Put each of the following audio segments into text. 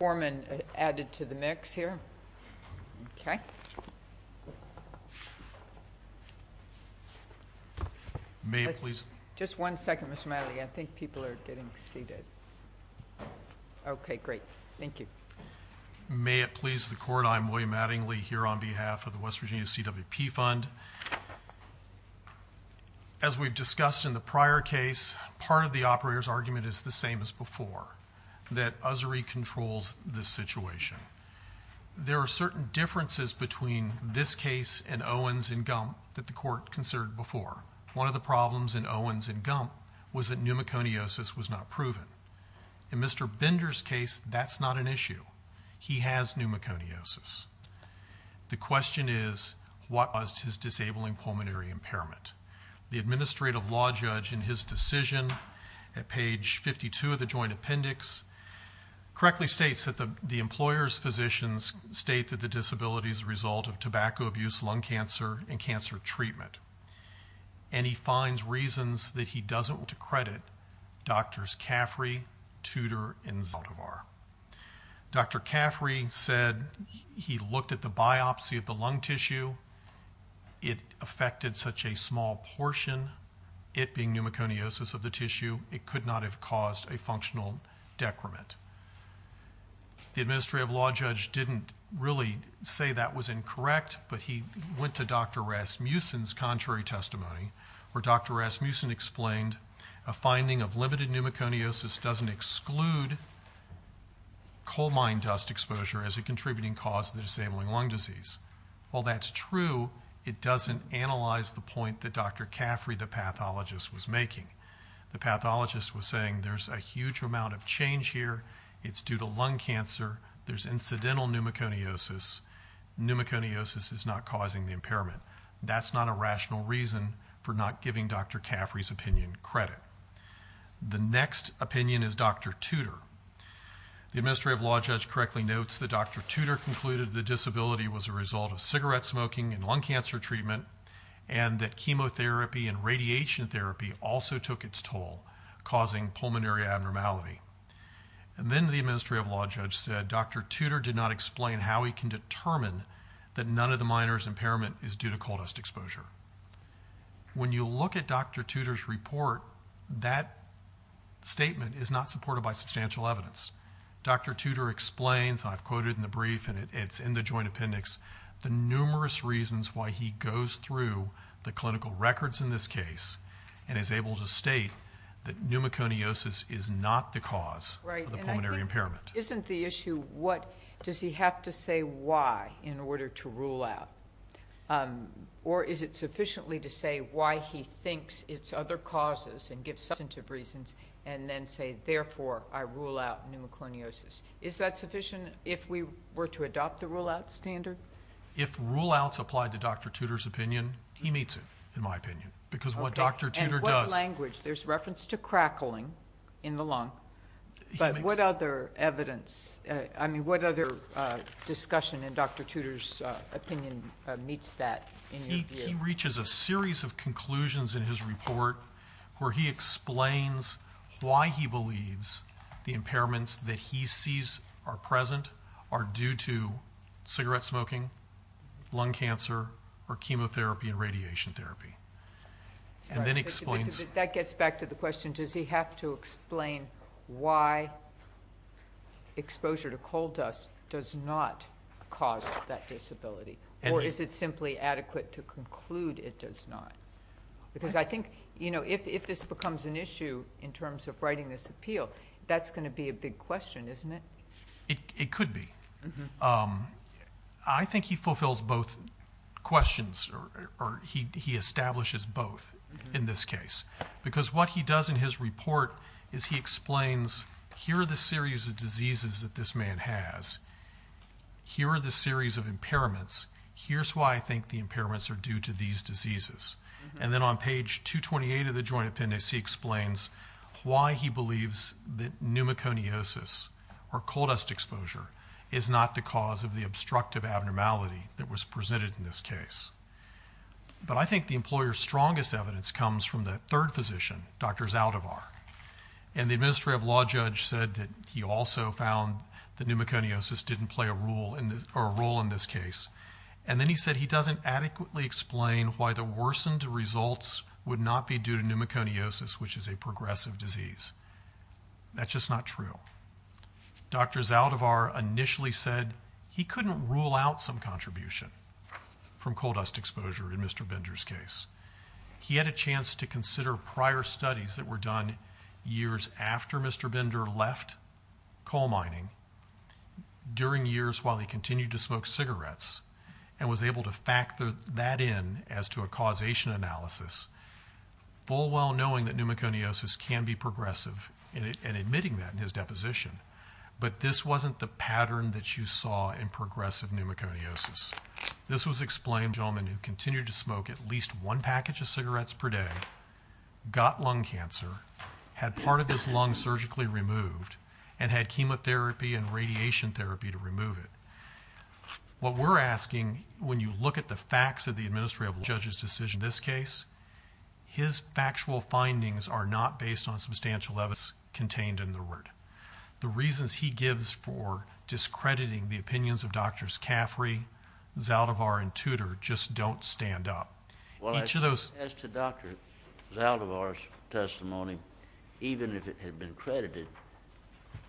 May it please the Court, I am William Addingly here on behalf of the West Virginia CWP Fund. As we've discussed in the prior case, part of the operator's argument is the same as this situation. There are certain differences between this case and Owens and Gump that the Court considered before. One of the problems in Owens and Gump was that pneumoconiosis was not proven. In Mr. Bender's case, that's not an issue. He has pneumoconiosis. The question is what caused his disabling pulmonary impairment? The administrative law judge in his decision at page 52 of the Joint Appendix correctly states that the employer's physicians state that the disability is a result of tobacco abuse, lung cancer, and cancer treatment. And he finds reasons that he doesn't want to credit Drs. Caffrey, Tudor, and Zaldivar. Dr. Caffrey said he looked at the biopsy of the lung tissue. It affected such a small tissue, it could not have caused a functional decrement. The administrative law judge didn't really say that was incorrect, but he went to Dr. Rasmussen's contrary testimony where Dr. Rasmussen explained a finding of limited pneumoconiosis doesn't exclude coal mine dust exposure as a contributing cause of the disabling lung disease. While that's true, it doesn't analyze the point that Dr. Caffrey, the pathologist, was making. The pathologist was saying there's a huge amount of change here. It's due to lung cancer. There's incidental pneumoconiosis. Pneumoconiosis is not causing the impairment. That's not a rational reason for not giving Dr. Caffrey's opinion credit. The next opinion is Dr. Tudor. The administrative law judge correctly notes that Dr. Tudor concluded the disability was a result of cigarette smoking and lung cancer treatment and that chemotherapy and radiation therapy also took its toll, causing pulmonary abnormality. Then the administrative law judge said Dr. Tudor did not explain how he can determine that none of the miners' impairment is due to coal dust exposure. When you look at Dr. Tudor's report, that statement is not supported by substantial evidence. Dr. Tudor explains, I've quoted in the brief and it's in the joint appendix, the numerous reasons why he goes through the clinical records in this case and is able to state that pneumoconiosis is not the cause of the pulmonary impairment. Isn't the issue what does he have to say why in order to rule out? Or is it sufficiently to say why he thinks it's other causes and give substantive reasons and then say therefore I rule out pneumoconiosis? Is that sufficient if we were to adopt the rule out standard? If rule outs apply to Dr. Tudor's opinion, he meets it, in my opinion. Because what Dr. Tudor does... And what language? There's reference to crackling in the lung. But what other evidence, I mean what other discussion in Dr. Tudor's opinion meets that in your view? He reaches a series of conclusions in his report where he explains why he believes the lung cancer or chemotherapy and radiation therapy and then explains... That gets back to the question, does he have to explain why exposure to coal dust does not cause that disability? Or is it simply adequate to conclude it does not? Because I think if this becomes an issue in terms of writing this appeal, that's going to be a big question, isn't it? It could be. I think he fulfills both questions or he establishes both in this case. Because what he does in his report is he explains here are the series of diseases that this man has. Here are the series of impairments. Here's why I think the impairments are due to these diseases. And then on page 228 of the joint appendix he explains why he believes that pneumoconiosis or coal dust exposure is not the cause of the obstructive abnormality that was presented in this case. But I think the employer's strongest evidence comes from the third physician, Dr. Zaldivar. And the administrative law judge said that he also found that pneumoconiosis didn't play a role in this case. And then he said he doesn't adequately explain why the worsened results would not be due to pneumoconiosis, which is a progressive disease. That's just not true. Dr. Zaldivar initially said he couldn't rule out some contribution from coal dust exposure in Mr. Bender's case. He had a chance to consider prior studies that were done years after Mr. Bender left coal mining during years while he continued to smoke cigarettes and was able to factor that in as to a causation analysis, full well knowing that pneumoconiosis can be progressive and admitting that in his deposition. But this wasn't the pattern that you saw in progressive pneumoconiosis. This was explained by a gentleman who continued to smoke at least one package of cigarettes per day, got lung cancer, had part of his lung surgically removed, and had chemotherapy and radiation therapy to remove it. What we're asking when you look at the facts of the administrative judge's decision in this case, his factual findings are not based on substantial evidence contained in the root. The reasons he gives for discrediting the opinions of Drs. Caffrey, Zaldivar, and Tudor just don't stand up. Well, as to Dr. Zaldivar's testimony, even if it had been credited,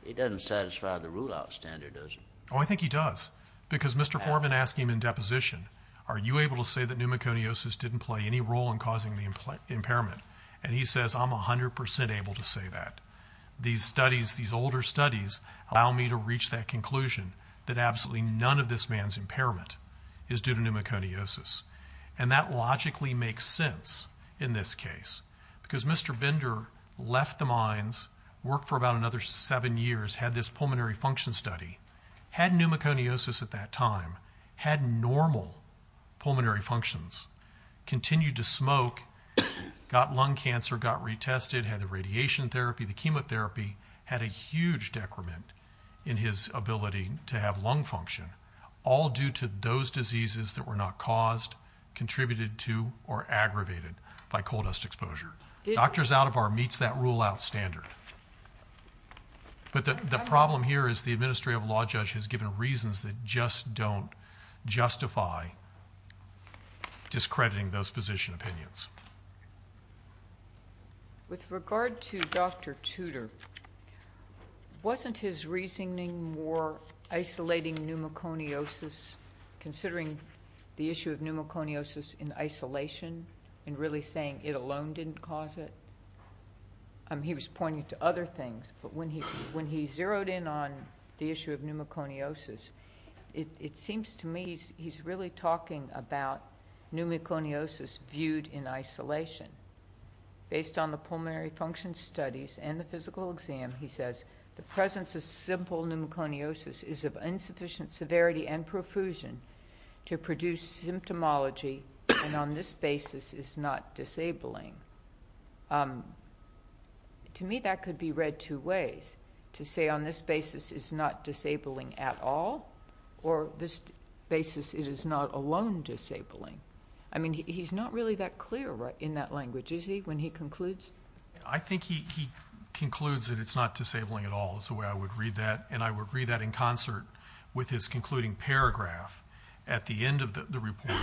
it doesn't satisfy the rule outstander, does it? Oh, I think he does. Because Mr. Foreman asked him in deposition, are you able to say that pneumoconiosis didn't play any role in causing the impairment? And he says, I'm 100% able to say that. These studies, these older studies, allow me to reach that conclusion that absolutely none of this man's impairment is due to pneumoconiosis. And that logically makes sense in this case. Because Mr. Bender left the mines, worked for about another seven years, had this pulmonary functions, continued to smoke, got lung cancer, got retested, had the radiation therapy, the chemotherapy, had a huge decrement in his ability to have lung function, all due to those diseases that were not caused, contributed to, or aggravated by coal dust exposure. Drs. Zaldivar meets that rule outstander. But the problem here is the administrative law judge has given reasons that just don't justify discrediting those position opinions. With regard to Dr. Tudor, wasn't his reasoning more isolating pneumoconiosis, considering the issue of pneumoconiosis in isolation, and really saying it alone didn't cause it? He was pointing to other things, but when he zeroed in on the issue of pneumoconiosis, it seems to me he's really talking about pneumoconiosis viewed in isolation. Based on the pulmonary function studies and the physical exam, he says, the presence of simple pneumoconiosis is of insufficient severity and profusion to produce symptomology, and on this basis is not disabling. To me, that could be read two ways, to say on this basis it's not disabling at all, or this basis it is not alone disabling. I mean, he's not really that clear in that language, is he, when he concludes? I think he concludes that it's not disabling at all, is the way I would read that, and I would read that in concert with his concluding paragraph at the end of the report,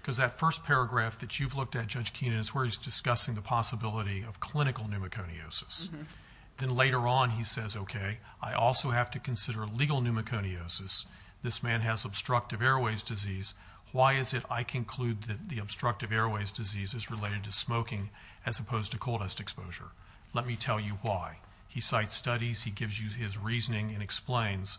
because that first paragraph that you've looked at, Judge Keenan, is where he's discussing the possibility of clinical pneumoconiosis. Then later on, he says, okay, I also have to consider legal pneumoconiosis. This man has obstructive airways disease. Why is it I conclude that the obstructive airways disease is related to smoking, as opposed to coal dust exposure? Let me tell you why. He cites studies, he gives you his reasoning, and explains,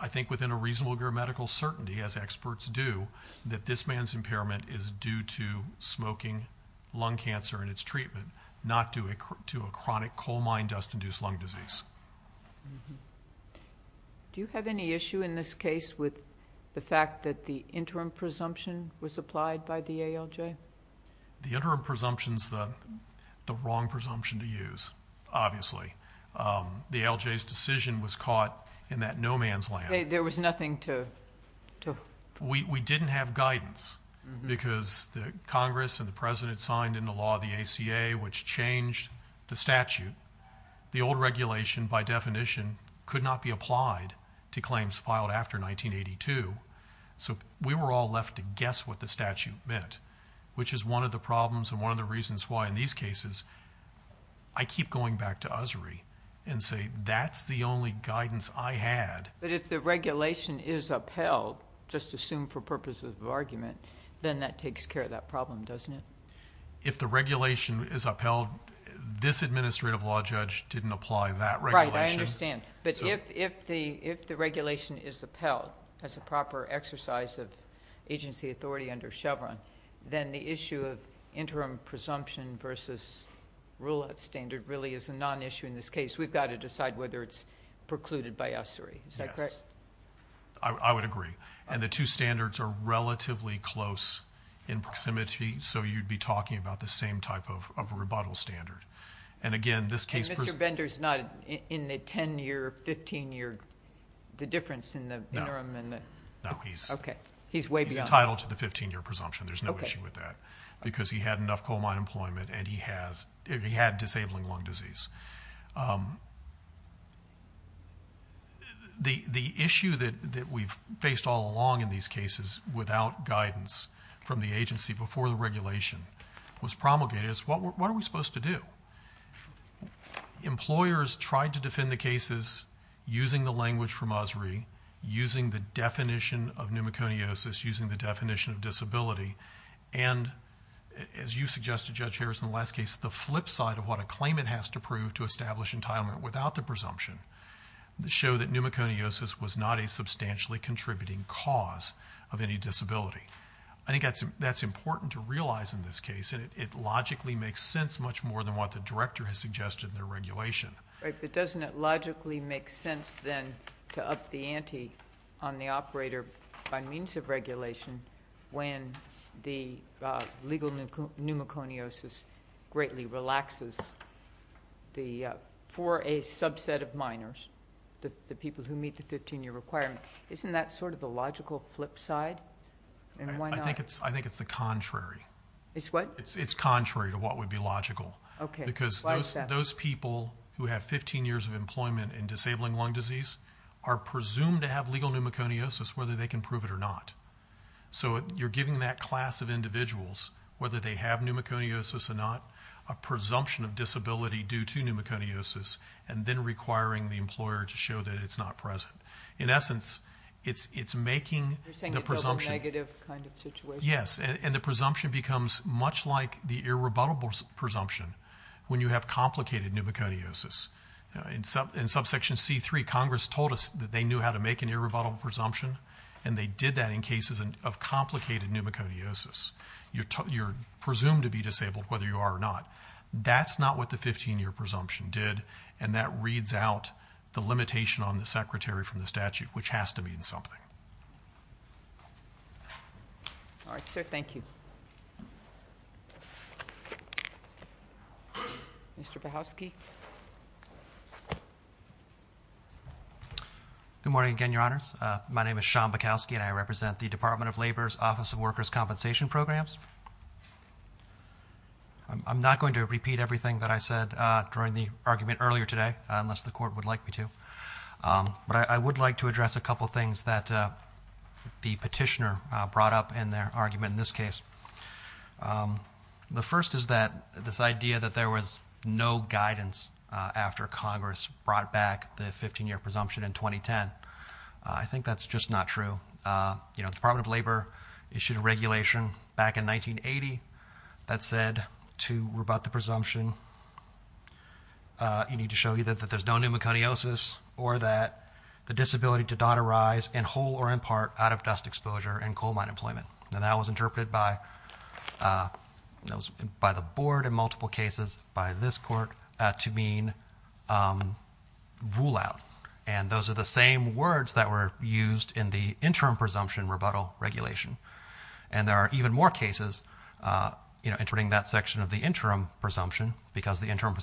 I think within a reasonable grammatical certainty, as experts do, that this man's impairment is due to smoking, lung cancer, and its treatment, not due to a chronic coal mine dust-induced lung disease. Do you have any issue in this case with the fact that the interim presumption was applied by the ALJ? The interim presumption's the wrong presumption to use, obviously. The ALJ's decision was caught in that no man's land. There was nothing to... We didn't have guidance, because the Congress and the President signed into law the ACA, which changed the statute. The old regulation, by definition, could not be applied to claims filed after 1982, so we were all left to guess what the statute meant, which is one of the problems and one of the reasons why, in these cases, I keep going back to Usry and say that's the only guidance I had. But if the regulation is upheld, just assume for purposes of argument, then that takes care of that problem, doesn't it? If the regulation is upheld, this administrative law judge didn't apply that regulation. Right, I understand. But if the regulation is upheld as a proper exercise of agency authority under Chevron, then the issue of interim presumption versus rule of standard really is a non-issue in this case. We've got to decide whether it's precluded by Usry. Is that correct? I would agree. And the two standards are relatively close in proximity, so you'd be talking about the same type of rebuttal standard. And again, this case... And Mr. Bender's not in the 10-year, 15-year, the difference in the interim and the... No. Okay. He's way beyond... He's entitled to the 15-year presumption. There's no issue with that, because he had enough coal mine employment and he had disabling lung disease. The issue that we've faced all along in these cases without guidance from the agency before the regulation was promulgated is, what are we supposed to do? Employers tried to defend the cases using the language from Usry, using the definition of pneumoconiosis, using the definition of disability. And as you suggested, Judge Harris, in the last case, the flip side of what a claimant has to prove to establish entitlement without the presumption showed that pneumoconiosis was not a substantially contributing cause of any disability. I think that's important to realize in this case, and it logically makes sense much more than what the director has suggested in the regulation. Right. But doesn't it logically make sense then to up the ante on the operator by means of regulation when the legal pneumoconiosis greatly relaxes for a subset of minors, the people who meet the 15-year requirement? Isn't that sort of the logical flip side? And why not... I think it's the contrary. It's what? It's contrary to what would be logical. Okay. Why is that? Those people who have 15 years of employment in disabling lung disease are presumed to have legal pneumoconiosis, whether they can prove it or not. So you're giving that class of individuals, whether they have pneumoconiosis or not, a presumption of disability due to pneumoconiosis and then requiring the employer to show that it's not present. In essence, it's making the presumption... You're saying it's a negative kind of situation. Yes. And the presumption becomes much like the irrebuttable presumption when you have complicated pneumoconiosis. In subsection C3, Congress told us that they knew how to make an irrebuttable presumption, and they did that in cases of complicated pneumoconiosis. You're presumed to be disabled, whether you are or not. That's not what the 15-year presumption did, and that reads out the limitation on the secretary from the statute, which has to mean something. All right, sir. Thank you. Mr. Bakowsky. Good morning again, Your Honors. My name is Sean Bakowsky, and I represent the Department of Labor's Office of Workers' Compensation Programs. I'm not going to repeat everything that I said during the argument earlier today, unless the Court would like me to. But I would like to address a couple things that the petitioner brought up in their argument in this case. The first is that this idea that there was no guidance after Congress brought back the 15-year presumption in 2010. I think that's just not true. The Department of Labor issued a regulation back in 1980 that said to rebut the presumption, you need to show either that there's no pneumoconiosis or that the disability to not arise in whole or in part out of dust exposure in coal mine employment. And that was interpreted by the Board in multiple cases, by this Court, to mean rule out. And those are the same words that were used in the interim presumption rebuttal regulation. And there are even more cases, you know, entering that section of the interim presumption, because the interim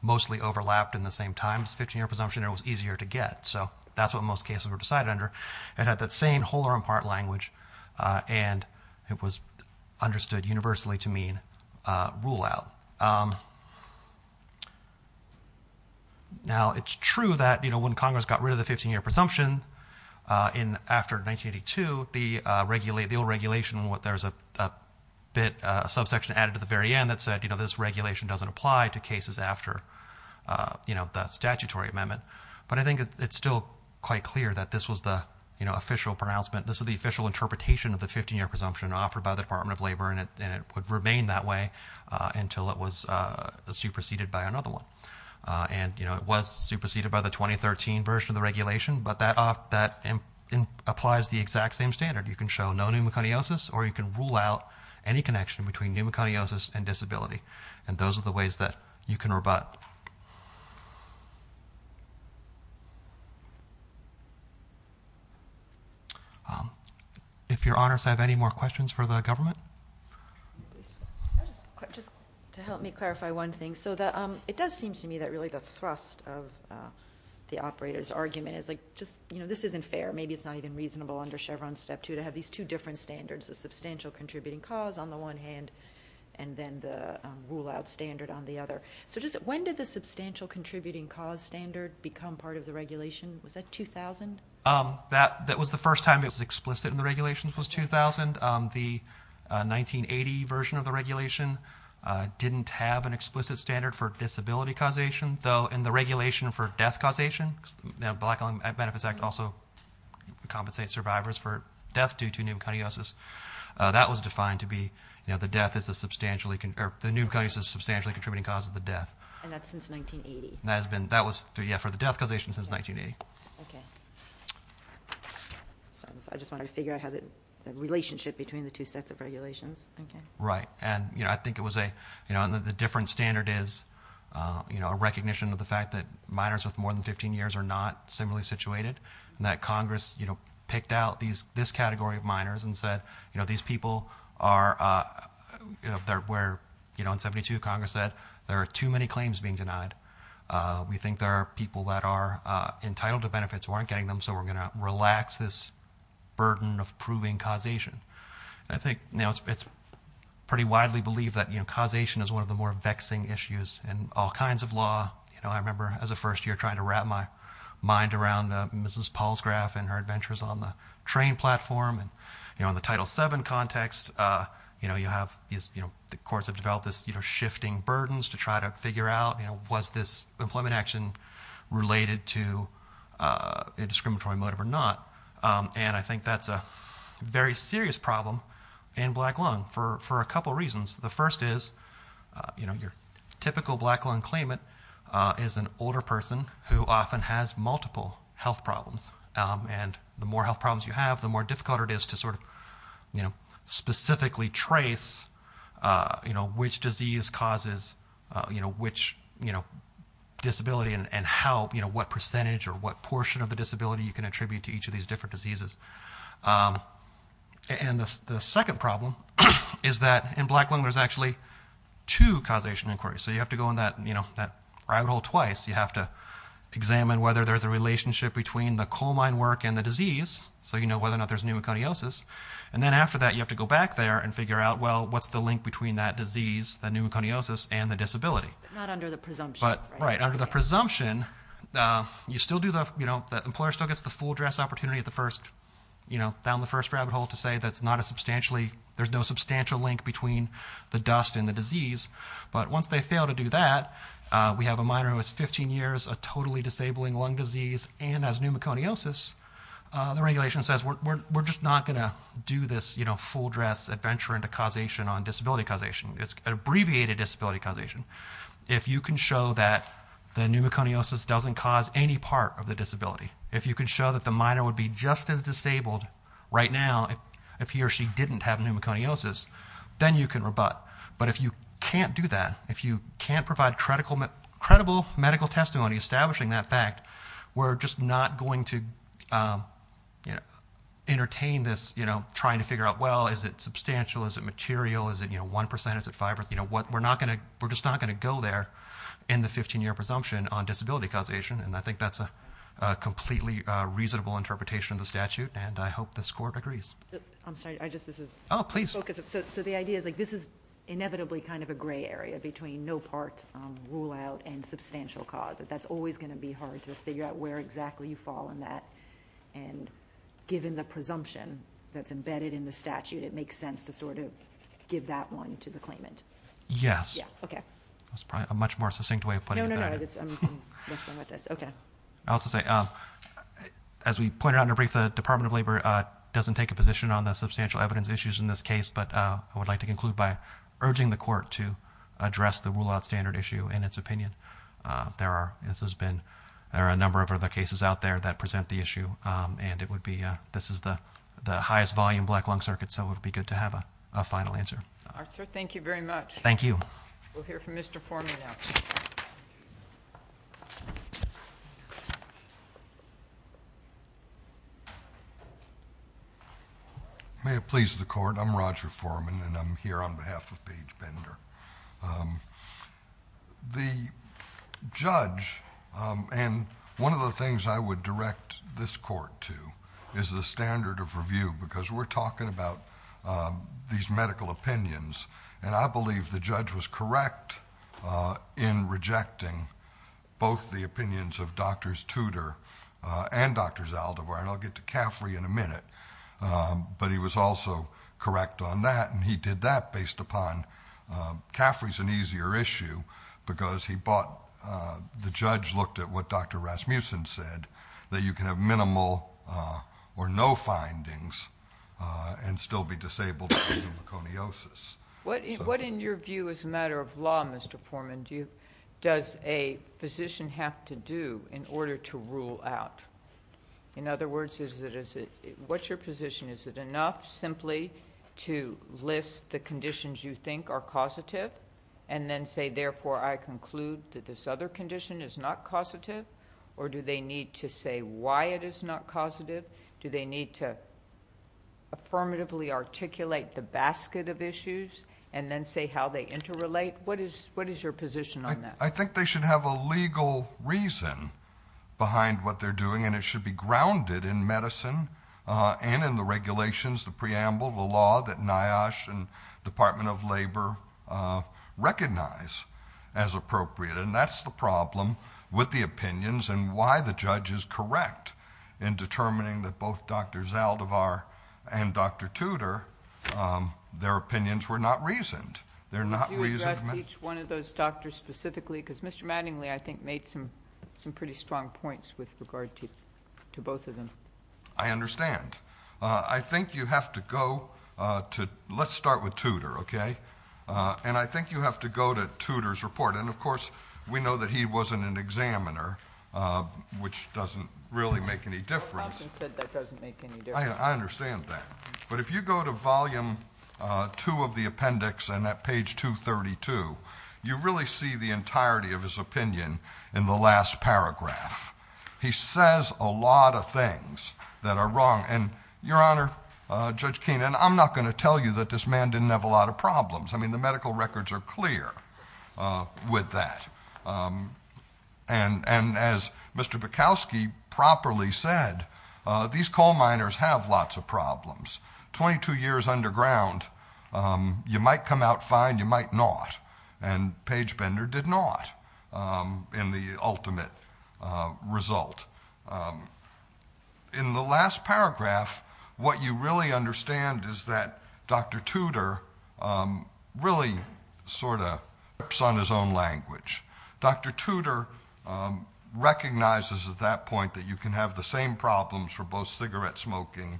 mostly overlapped in the same times, 15-year presumption, and it was easier to get. So that's what most cases were decided under. It had that same whole or in part language, and it was understood universally to mean rule out. Now, it's true that, you know, when Congress got rid of the 15-year presumption in, after 1982, the old regulation, there's a bit, a subsection added to the very end that said, you know, this regulation doesn't apply to cases after, you know, the statutory amendment. But I think it's still quite clear that this was the, you know, official pronouncement. This is the official interpretation of the 15-year presumption offered by the Department of Labor, and it would remain that way until it was superseded by another one. And, you know, it was superseded by the 2013 version of the regulation, but that applies the exact same standard. You can show no pneumoconiosis, or you can rule out any connection between pneumoconiosis and disability. And those are the ways that you can rebut. If your honors have any more questions for the government? Just to help me clarify one thing. So that, it does seem to me that really the thrust of the operator's argument is like, just, you know, this isn't fair. Maybe it's not even reasonable under Chevron Step 2 to have these two different standards, the substantial outstander on the other. So just, when did the substantial contributing cause standard become part of the regulation? Was that 2000? That was the first time it was explicit in the regulations was 2000. The 1980 version of the regulation didn't have an explicit standard for disability causation, though in the regulation for death causation, the Black-Owned Benefits Act also compensates survivors for death due to pneumoconiosis. That was defined to be, you know, the death is a substantially, or the pneumoconiosis is a substantially contributing cause of the death. And that's since 1980? That has been, that was, yeah, for the death causation since 1980. Okay. Sorry, I just wanted to figure out how the relationship between the two sets of regulations. Okay. Right. And, you know, I think it was a, you know, and the different standard is, you know, a recognition of the fact that minors with more than 15 years are not similarly situated, and that Congress, you know, picked out these, this category of minors and said, you know, these people are, you know, they're where, you know, in 72 Congress said, there are too many claims being denied. We think there are people that are entitled to benefits who aren't getting them, so we're going to relax this burden of proving causation. I think, you know, it's pretty widely believed that, you know, causation is one of the more vexing issues in all kinds of law. You know, I remember as a first year trying to wrap my mind around Mrs. Paul's photograph and her adventures on the train platform and, you know, on the Title VII context, you know, you have, you know, the courts have developed this, you know, shifting burdens to try to figure out, you know, was this employment action related to a discriminatory motive or not. And I think that's a very serious problem in black lung for a couple of reasons. The first is, you know, your typical black lung claimant is an older person who often has multiple health problems. And the more health problems you have, the more difficult it is to sort of, you know, specifically trace, you know, which disease causes, you know, which, you know, disability and how, you know, what percentage or what portion of the disability you can attribute to each of these different diseases. And the second problem is that in black lung there's actually two causation inquiries. So you have to go on that, you have to examine whether there's a relationship between the coal mine work and the disease, so you know whether or not there's pneumoconiosis. And then after that, you have to go back there and figure out, well, what's the link between that disease, the pneumoconiosis, and the disability. But not under the presumption. Right. Under the presumption, you still do the, you know, the employer still gets the full dress opportunity at the first, you know, down the first rabbit hole to say that's not a substantially, there's no substantial link between the dust and the disease. But once they fail to do that, we have a minor who has 15 years of totally disabling lung disease and has pneumoconiosis, the regulation says we're just not going to do this, you know, full dress adventure into causation on disability causation. It's abbreviated disability causation. If you can show that the pneumoconiosis doesn't cause any part of the disability, if you can show that the minor would be just as disabled right now if he or she didn't have pneumoconiosis, then you can rebut. But if you can't do that, if you can't provide credible medical testimony establishing that fact, we're just not going to, you know, entertain this, you know, trying to figure out, well, is it substantial? Is it material? Is it, you know, 1%? Is it 5%? You know, we're not going to, we're just not going to go there in the 15-year presumption on disability causation, and I think that's a completely reasonable interpretation of the statute, and I hope the score agrees. I'm sorry, I just, this is... Oh, please. So the idea is, like, this is inevitably kind of a gray area between no part rule out and substantial cause, that that's always going to be hard to figure out where exactly you fall in that, and given the presumption that's embedded in the statute, it makes sense to sort of give that one to the claimant. Yes. Yeah, okay. That's probably a much more succinct way of putting it. No, no, no, I'm messing with this. Okay. I also say, as we pointed out in a brief, the Department of Labor doesn't take a position on the substantial evidence issues in this case, but I would like to conclude by urging the Court to address the rule out standard issue in its opinion. There are, this has been, there are a number of other cases out there that present the issue, and it would be, this is the highest volume black lung circuit, so it would be good to have a final answer. All right, sir, thank you very much. Thank you. We'll hear from Mr. Forman now. May it please the Court, I'm Roger Forman, and I'm here on behalf of Page Bender. The judge, and one of the things I would direct this Court to, is the standard of review, because we're talking about these medical opinions, and I believe the judge was correct in rejecting both the opinions of Dr. Tudor and Dr. Zaldivar, and I'll get to Caffrey in a minute, but he was also correct on that, and he did that based upon... Caffrey's an easier issue because he bought, the judge looked at what Dr. Rasmussen said, that you can have minimal or no findings and still be disabled from pneumoconiosis. What in your view, as a matter of law, Mr. Forman, does a physician have to do in order to rule out? In other words, what's your position? Is it enough simply to list the conditions you think are causative, and then say, therefore, I conclude that this other condition is not causative, or do they need to say why it is not causative? Do they need to affirmatively articulate the basket of issues, and then say how they interrelate? What is your position on that? I think they should have a legal reason behind what they're doing, and it should be grounded in medicine and in the regulations, the preamble, the law that NIOSH and Department of Labor recognize as appropriate, and that's the problem with the opinions and why the judge is correct in determining that both Dr. Zaldivar and Dr. Tudor, their opinions were not reasoned. They're not reasoned. Would you address each one of those doctors specifically, because Mr. Mattingly, I think, made some pretty strong points with regard to both of them. I understand. I think you have to go to, let's start with Tudor, okay? And I think you have to go to Tudor's report, and of course, we know that he wasn't an examiner, which doesn't really make any difference. Dr. Johnson said that doesn't make any difference. I understand that. But if you go to volume two of the appendix, and at page 232, you really see the entirety of his opinion in the last paragraph. He says a lot of things that are wrong, and Your Honor, Judge Keene, and I'm not going I mean, the medical records are clear with that. And as Mr. Bukowski properly said, these coal miners have lots of problems. Twenty-two years underground, you might come out fine, you might not. And Page Bender did not in the ultimate result. In the last paragraph, what you really understand is that Dr. Tudor really sort of works on his own language. Dr. Tudor recognizes at that point that you can have the same problems for both cigarette smoking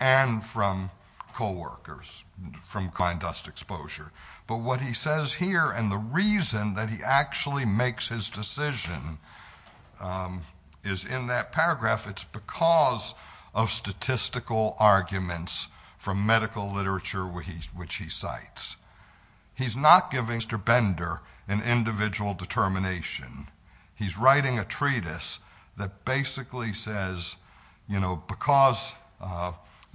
and from coal workers, from coal dust exposure. But what he says here and the reason that he actually makes his decision is in that paragraph, it's because of statistical arguments from medical literature which he cites. He's not giving Mr. Bender an individual determination. He's writing a treatise that basically says, you know, because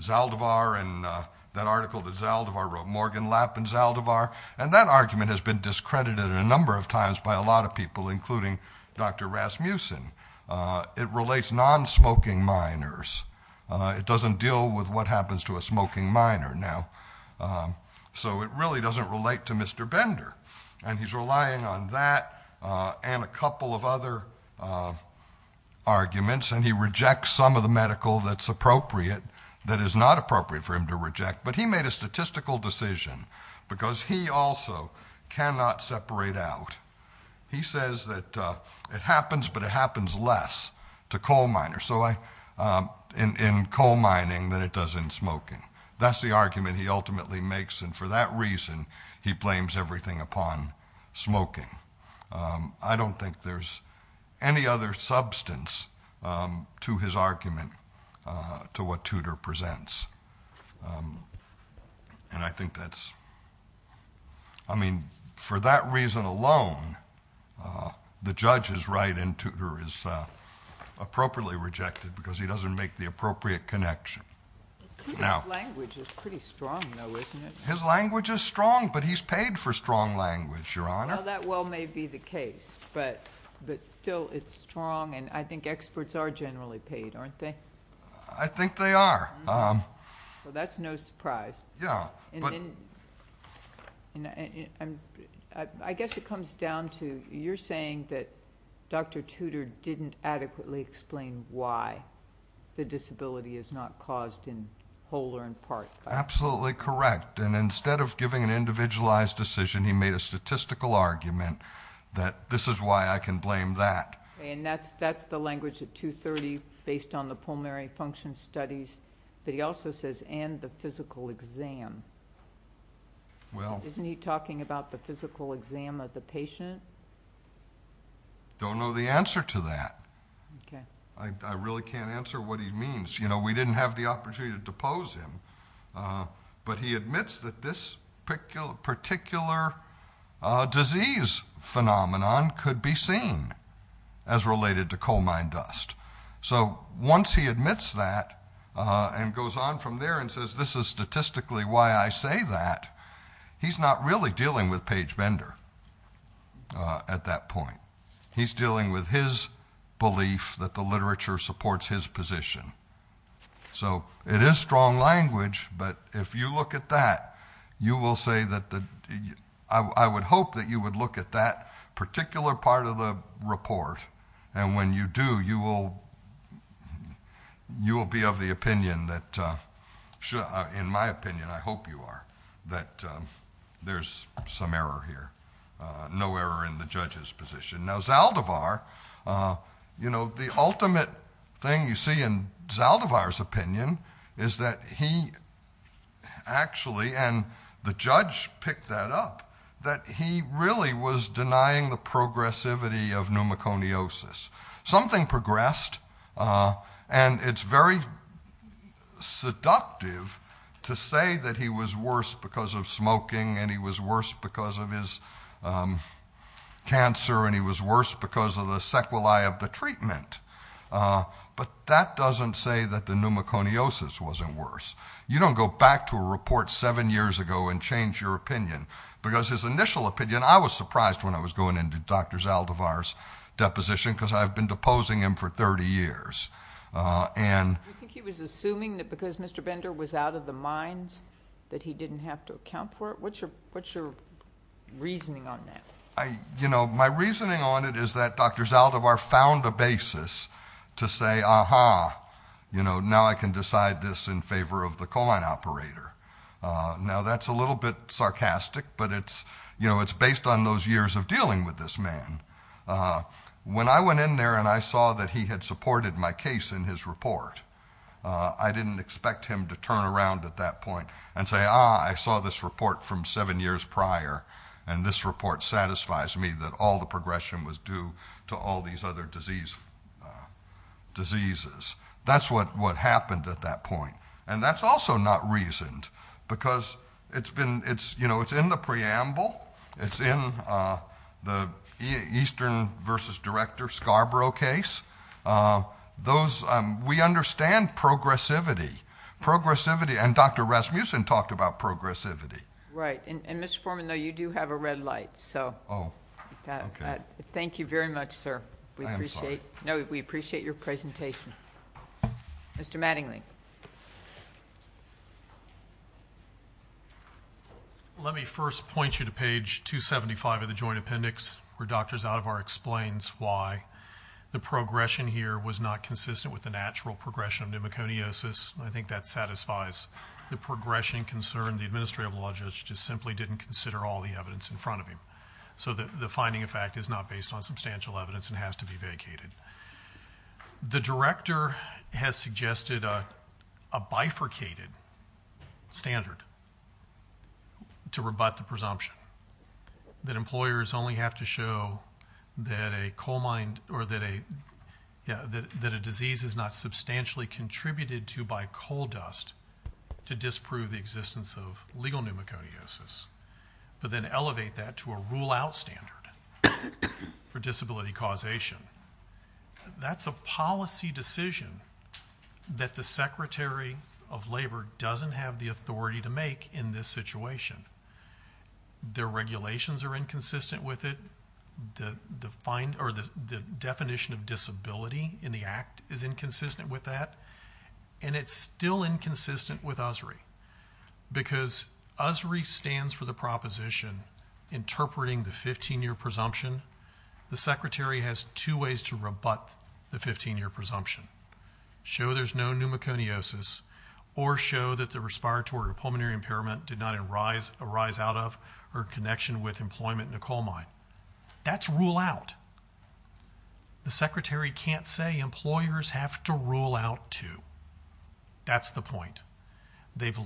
Zaldivar and that article that Zaldivar wrote, Morgan Lapp and Zaldivar, and that argument has been discredited a number of times by a lot of people, including Dr. Rasmussen. It relates non-smoking miners. It doesn't deal with what happens to a smoking miner now. So it really doesn't relate to Mr. Bender. And he's relying on that and a couple of other arguments, and he rejects some of the medical that's appropriate, that is not appropriate for him to reject. But he made a statistical decision because he also cannot separate out. He says that it happens, but it happens less to coal miners in coal mining than it does in smoking. That's the argument he ultimately makes, and for that reason, he blames everything upon smoking. I don't think there's any other substance to his argument to what Tudor presents, and I think that's, I mean, for that reason alone, the judge is right and Tudor is appropriately rejected because he doesn't make the appropriate connection. Now. Tudor's language is pretty strong, though, isn't it? His language is strong, but he's paid for strong language, Your Honor. Well, that well may be the case, but still, it's strong, and I think experts are generally paid, aren't they? I think they are. Well, that's no surprise. Yeah, but... I guess it comes down to, you're saying that Dr. Tudor didn't adequately explain why the disability is not caused in whole or in part by... Absolutely correct. Instead of giving an individualized decision, he made a statistical argument that this is why I can blame that. That's the language at 230 based on the pulmonary function studies, but he also says, and the physical exam. Well... Isn't he talking about the physical exam of the patient? Don't know the answer to that. Okay. I really can't answer what he means. We didn't have the opportunity to depose him, but he admits that this particular disease phenomenon could be seen as related to coal mine dust. So once he admits that and goes on from there and says this is statistically why I say that, he's not really dealing with Page Bender at that point. He's dealing with his belief that the literature supports his position. So it is strong language, but if you look at that, you will say that... I would hope that you would look at that particular part of the report, and when you do, you will be of the opinion that... in my opinion, I hope you are, that there's some error here. No error in the judge's position. Now Zaldivar, you know, the ultimate thing you see in Zaldivar's opinion is that he actually... and the judge picked that up, that he really was denying the progressivity of pneumoconiosis. Something progressed, and it's very seductive to say that he was worse because of smoking and he was worse because of his cancer and he was worse because of the sequelae of the treatment, but that doesn't say that the pneumoconiosis wasn't worse. You don't go back to a report seven years ago and change your opinion, because his initial opinion... I was surprised when I was going into Dr. Zaldivar's deposition, because I've been deposing him for 30 years, and... Do you think he was assuming that because Mr. Bender was out of the mines that he didn't have to account for it? What's your reasoning on that? My reasoning on it is that Dr. Zaldivar found a basis to say, aha, now I can decide this in favor of the coal mine operator. Now that's a little bit sarcastic, but it's based on those years of dealing with this man. When I went in there and I saw that he had supported my case in his report, I didn't expect him to turn around at that point and say, ah, I saw this report from seven years prior and this report satisfies me that all the progression was due to all these other diseases. That's what happened at that point. That's also not reasoned, because it's in the preamble. It's in the Eastern versus Director Scarborough case. We understand progressivity, and Dr. Rasmussen talked about progressivity. Right. Mr. Foreman, though, you do have a red light, so... Oh. Okay. Thank you very much, sir. We appreciate... I am sorry. No. We appreciate your presentation. Mr. Mattingly. Let me first point you to page 275 of the Joint Appendix, where Dr. Zaldivar explains why the progression here was not consistent with the natural progression of pneumoconiosis. I think that satisfies the progression concern. The administrative law judge just simply didn't consider all the evidence in front of him, so the finding, in fact, is not based on substantial evidence and has to be vacated. The director has suggested a bifurcated standard to rebut the presumption, that employers only have to show that a disease is not substantially contributed to by coal dust to disprove the existence of legal pneumoconiosis, but then elevate that to a rule-out standard for disability causation. That's a policy decision that the Secretary of Labor doesn't have the authority to make in this situation. Their regulations are inconsistent with it. The definition of disability in the act is inconsistent with that, and it's still inconsistent with USRI. Because USRI stands for the proposition interpreting the 15-year presumption, the Secretary has two ways to rebut the 15-year presumption. Show there's no pneumoconiosis, or show that the respiratory or pulmonary impairment did not arise out of or connection with employment in a coal mine. That's rule-out. The Secretary can't say employers have to rule-out too. That's the point. That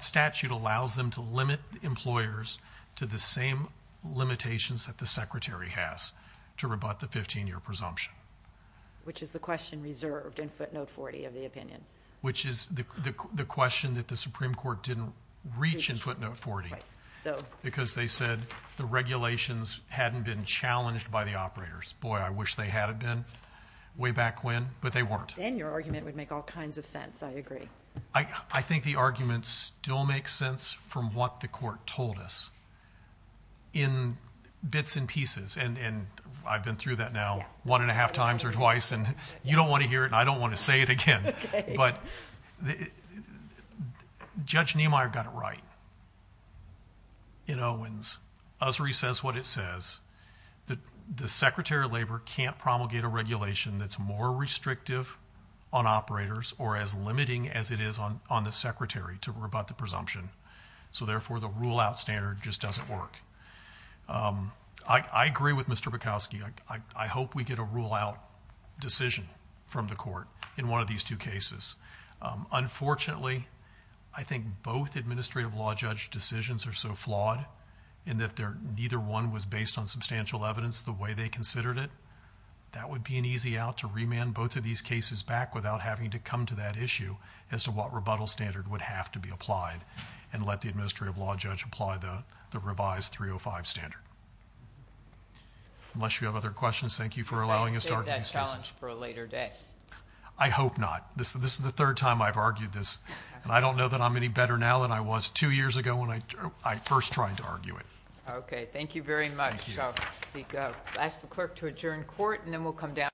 statute allows them to limit employers to the same limitations that the Secretary has to rebut the 15-year presumption. Which is the question reserved in footnote 40 of the opinion. Which is the question that the Supreme Court didn't reach in footnote 40. Because they said the regulations hadn't been challenged by the operators. Boy, I wish they had been way back when, but they weren't. And your argument would make all kinds of sense, I agree. I think the argument still makes sense from what the court told us in bits and pieces. I've been through that now one and a half times or twice, and you don't want to hear it and I don't want to say it again. But Judge Niemeyer got it right in Owens. USRI says what it says. The Secretary of Labor can't promulgate a regulation that's more restrictive on operators or as limiting as it is on the Secretary to rebut the presumption. So therefore the rule-out standard just doesn't work. I agree with Mr. Bukowski. I hope we get a rule-out decision from the court in one of these two cases. Unfortunately, I think both administrative law judge decisions are so flawed in that neither one was based on substantial evidence the way they considered it. That would be an easy out to remand both of these cases back without having to come to that issue as to what rebuttal standard would have to be applied. And let the administrative law judge apply the revised 305 standard. Unless you have other questions, thank you for allowing us to argue these cases. Does that save that challenge for a later day? I hope not. This is the third time I've argued this. And I don't know that I'm any better now than I was two years ago when I first tried to argue it. Okay. Thank you very much. Thank you. I'll ask the clerk to adjourn court and then we'll come down.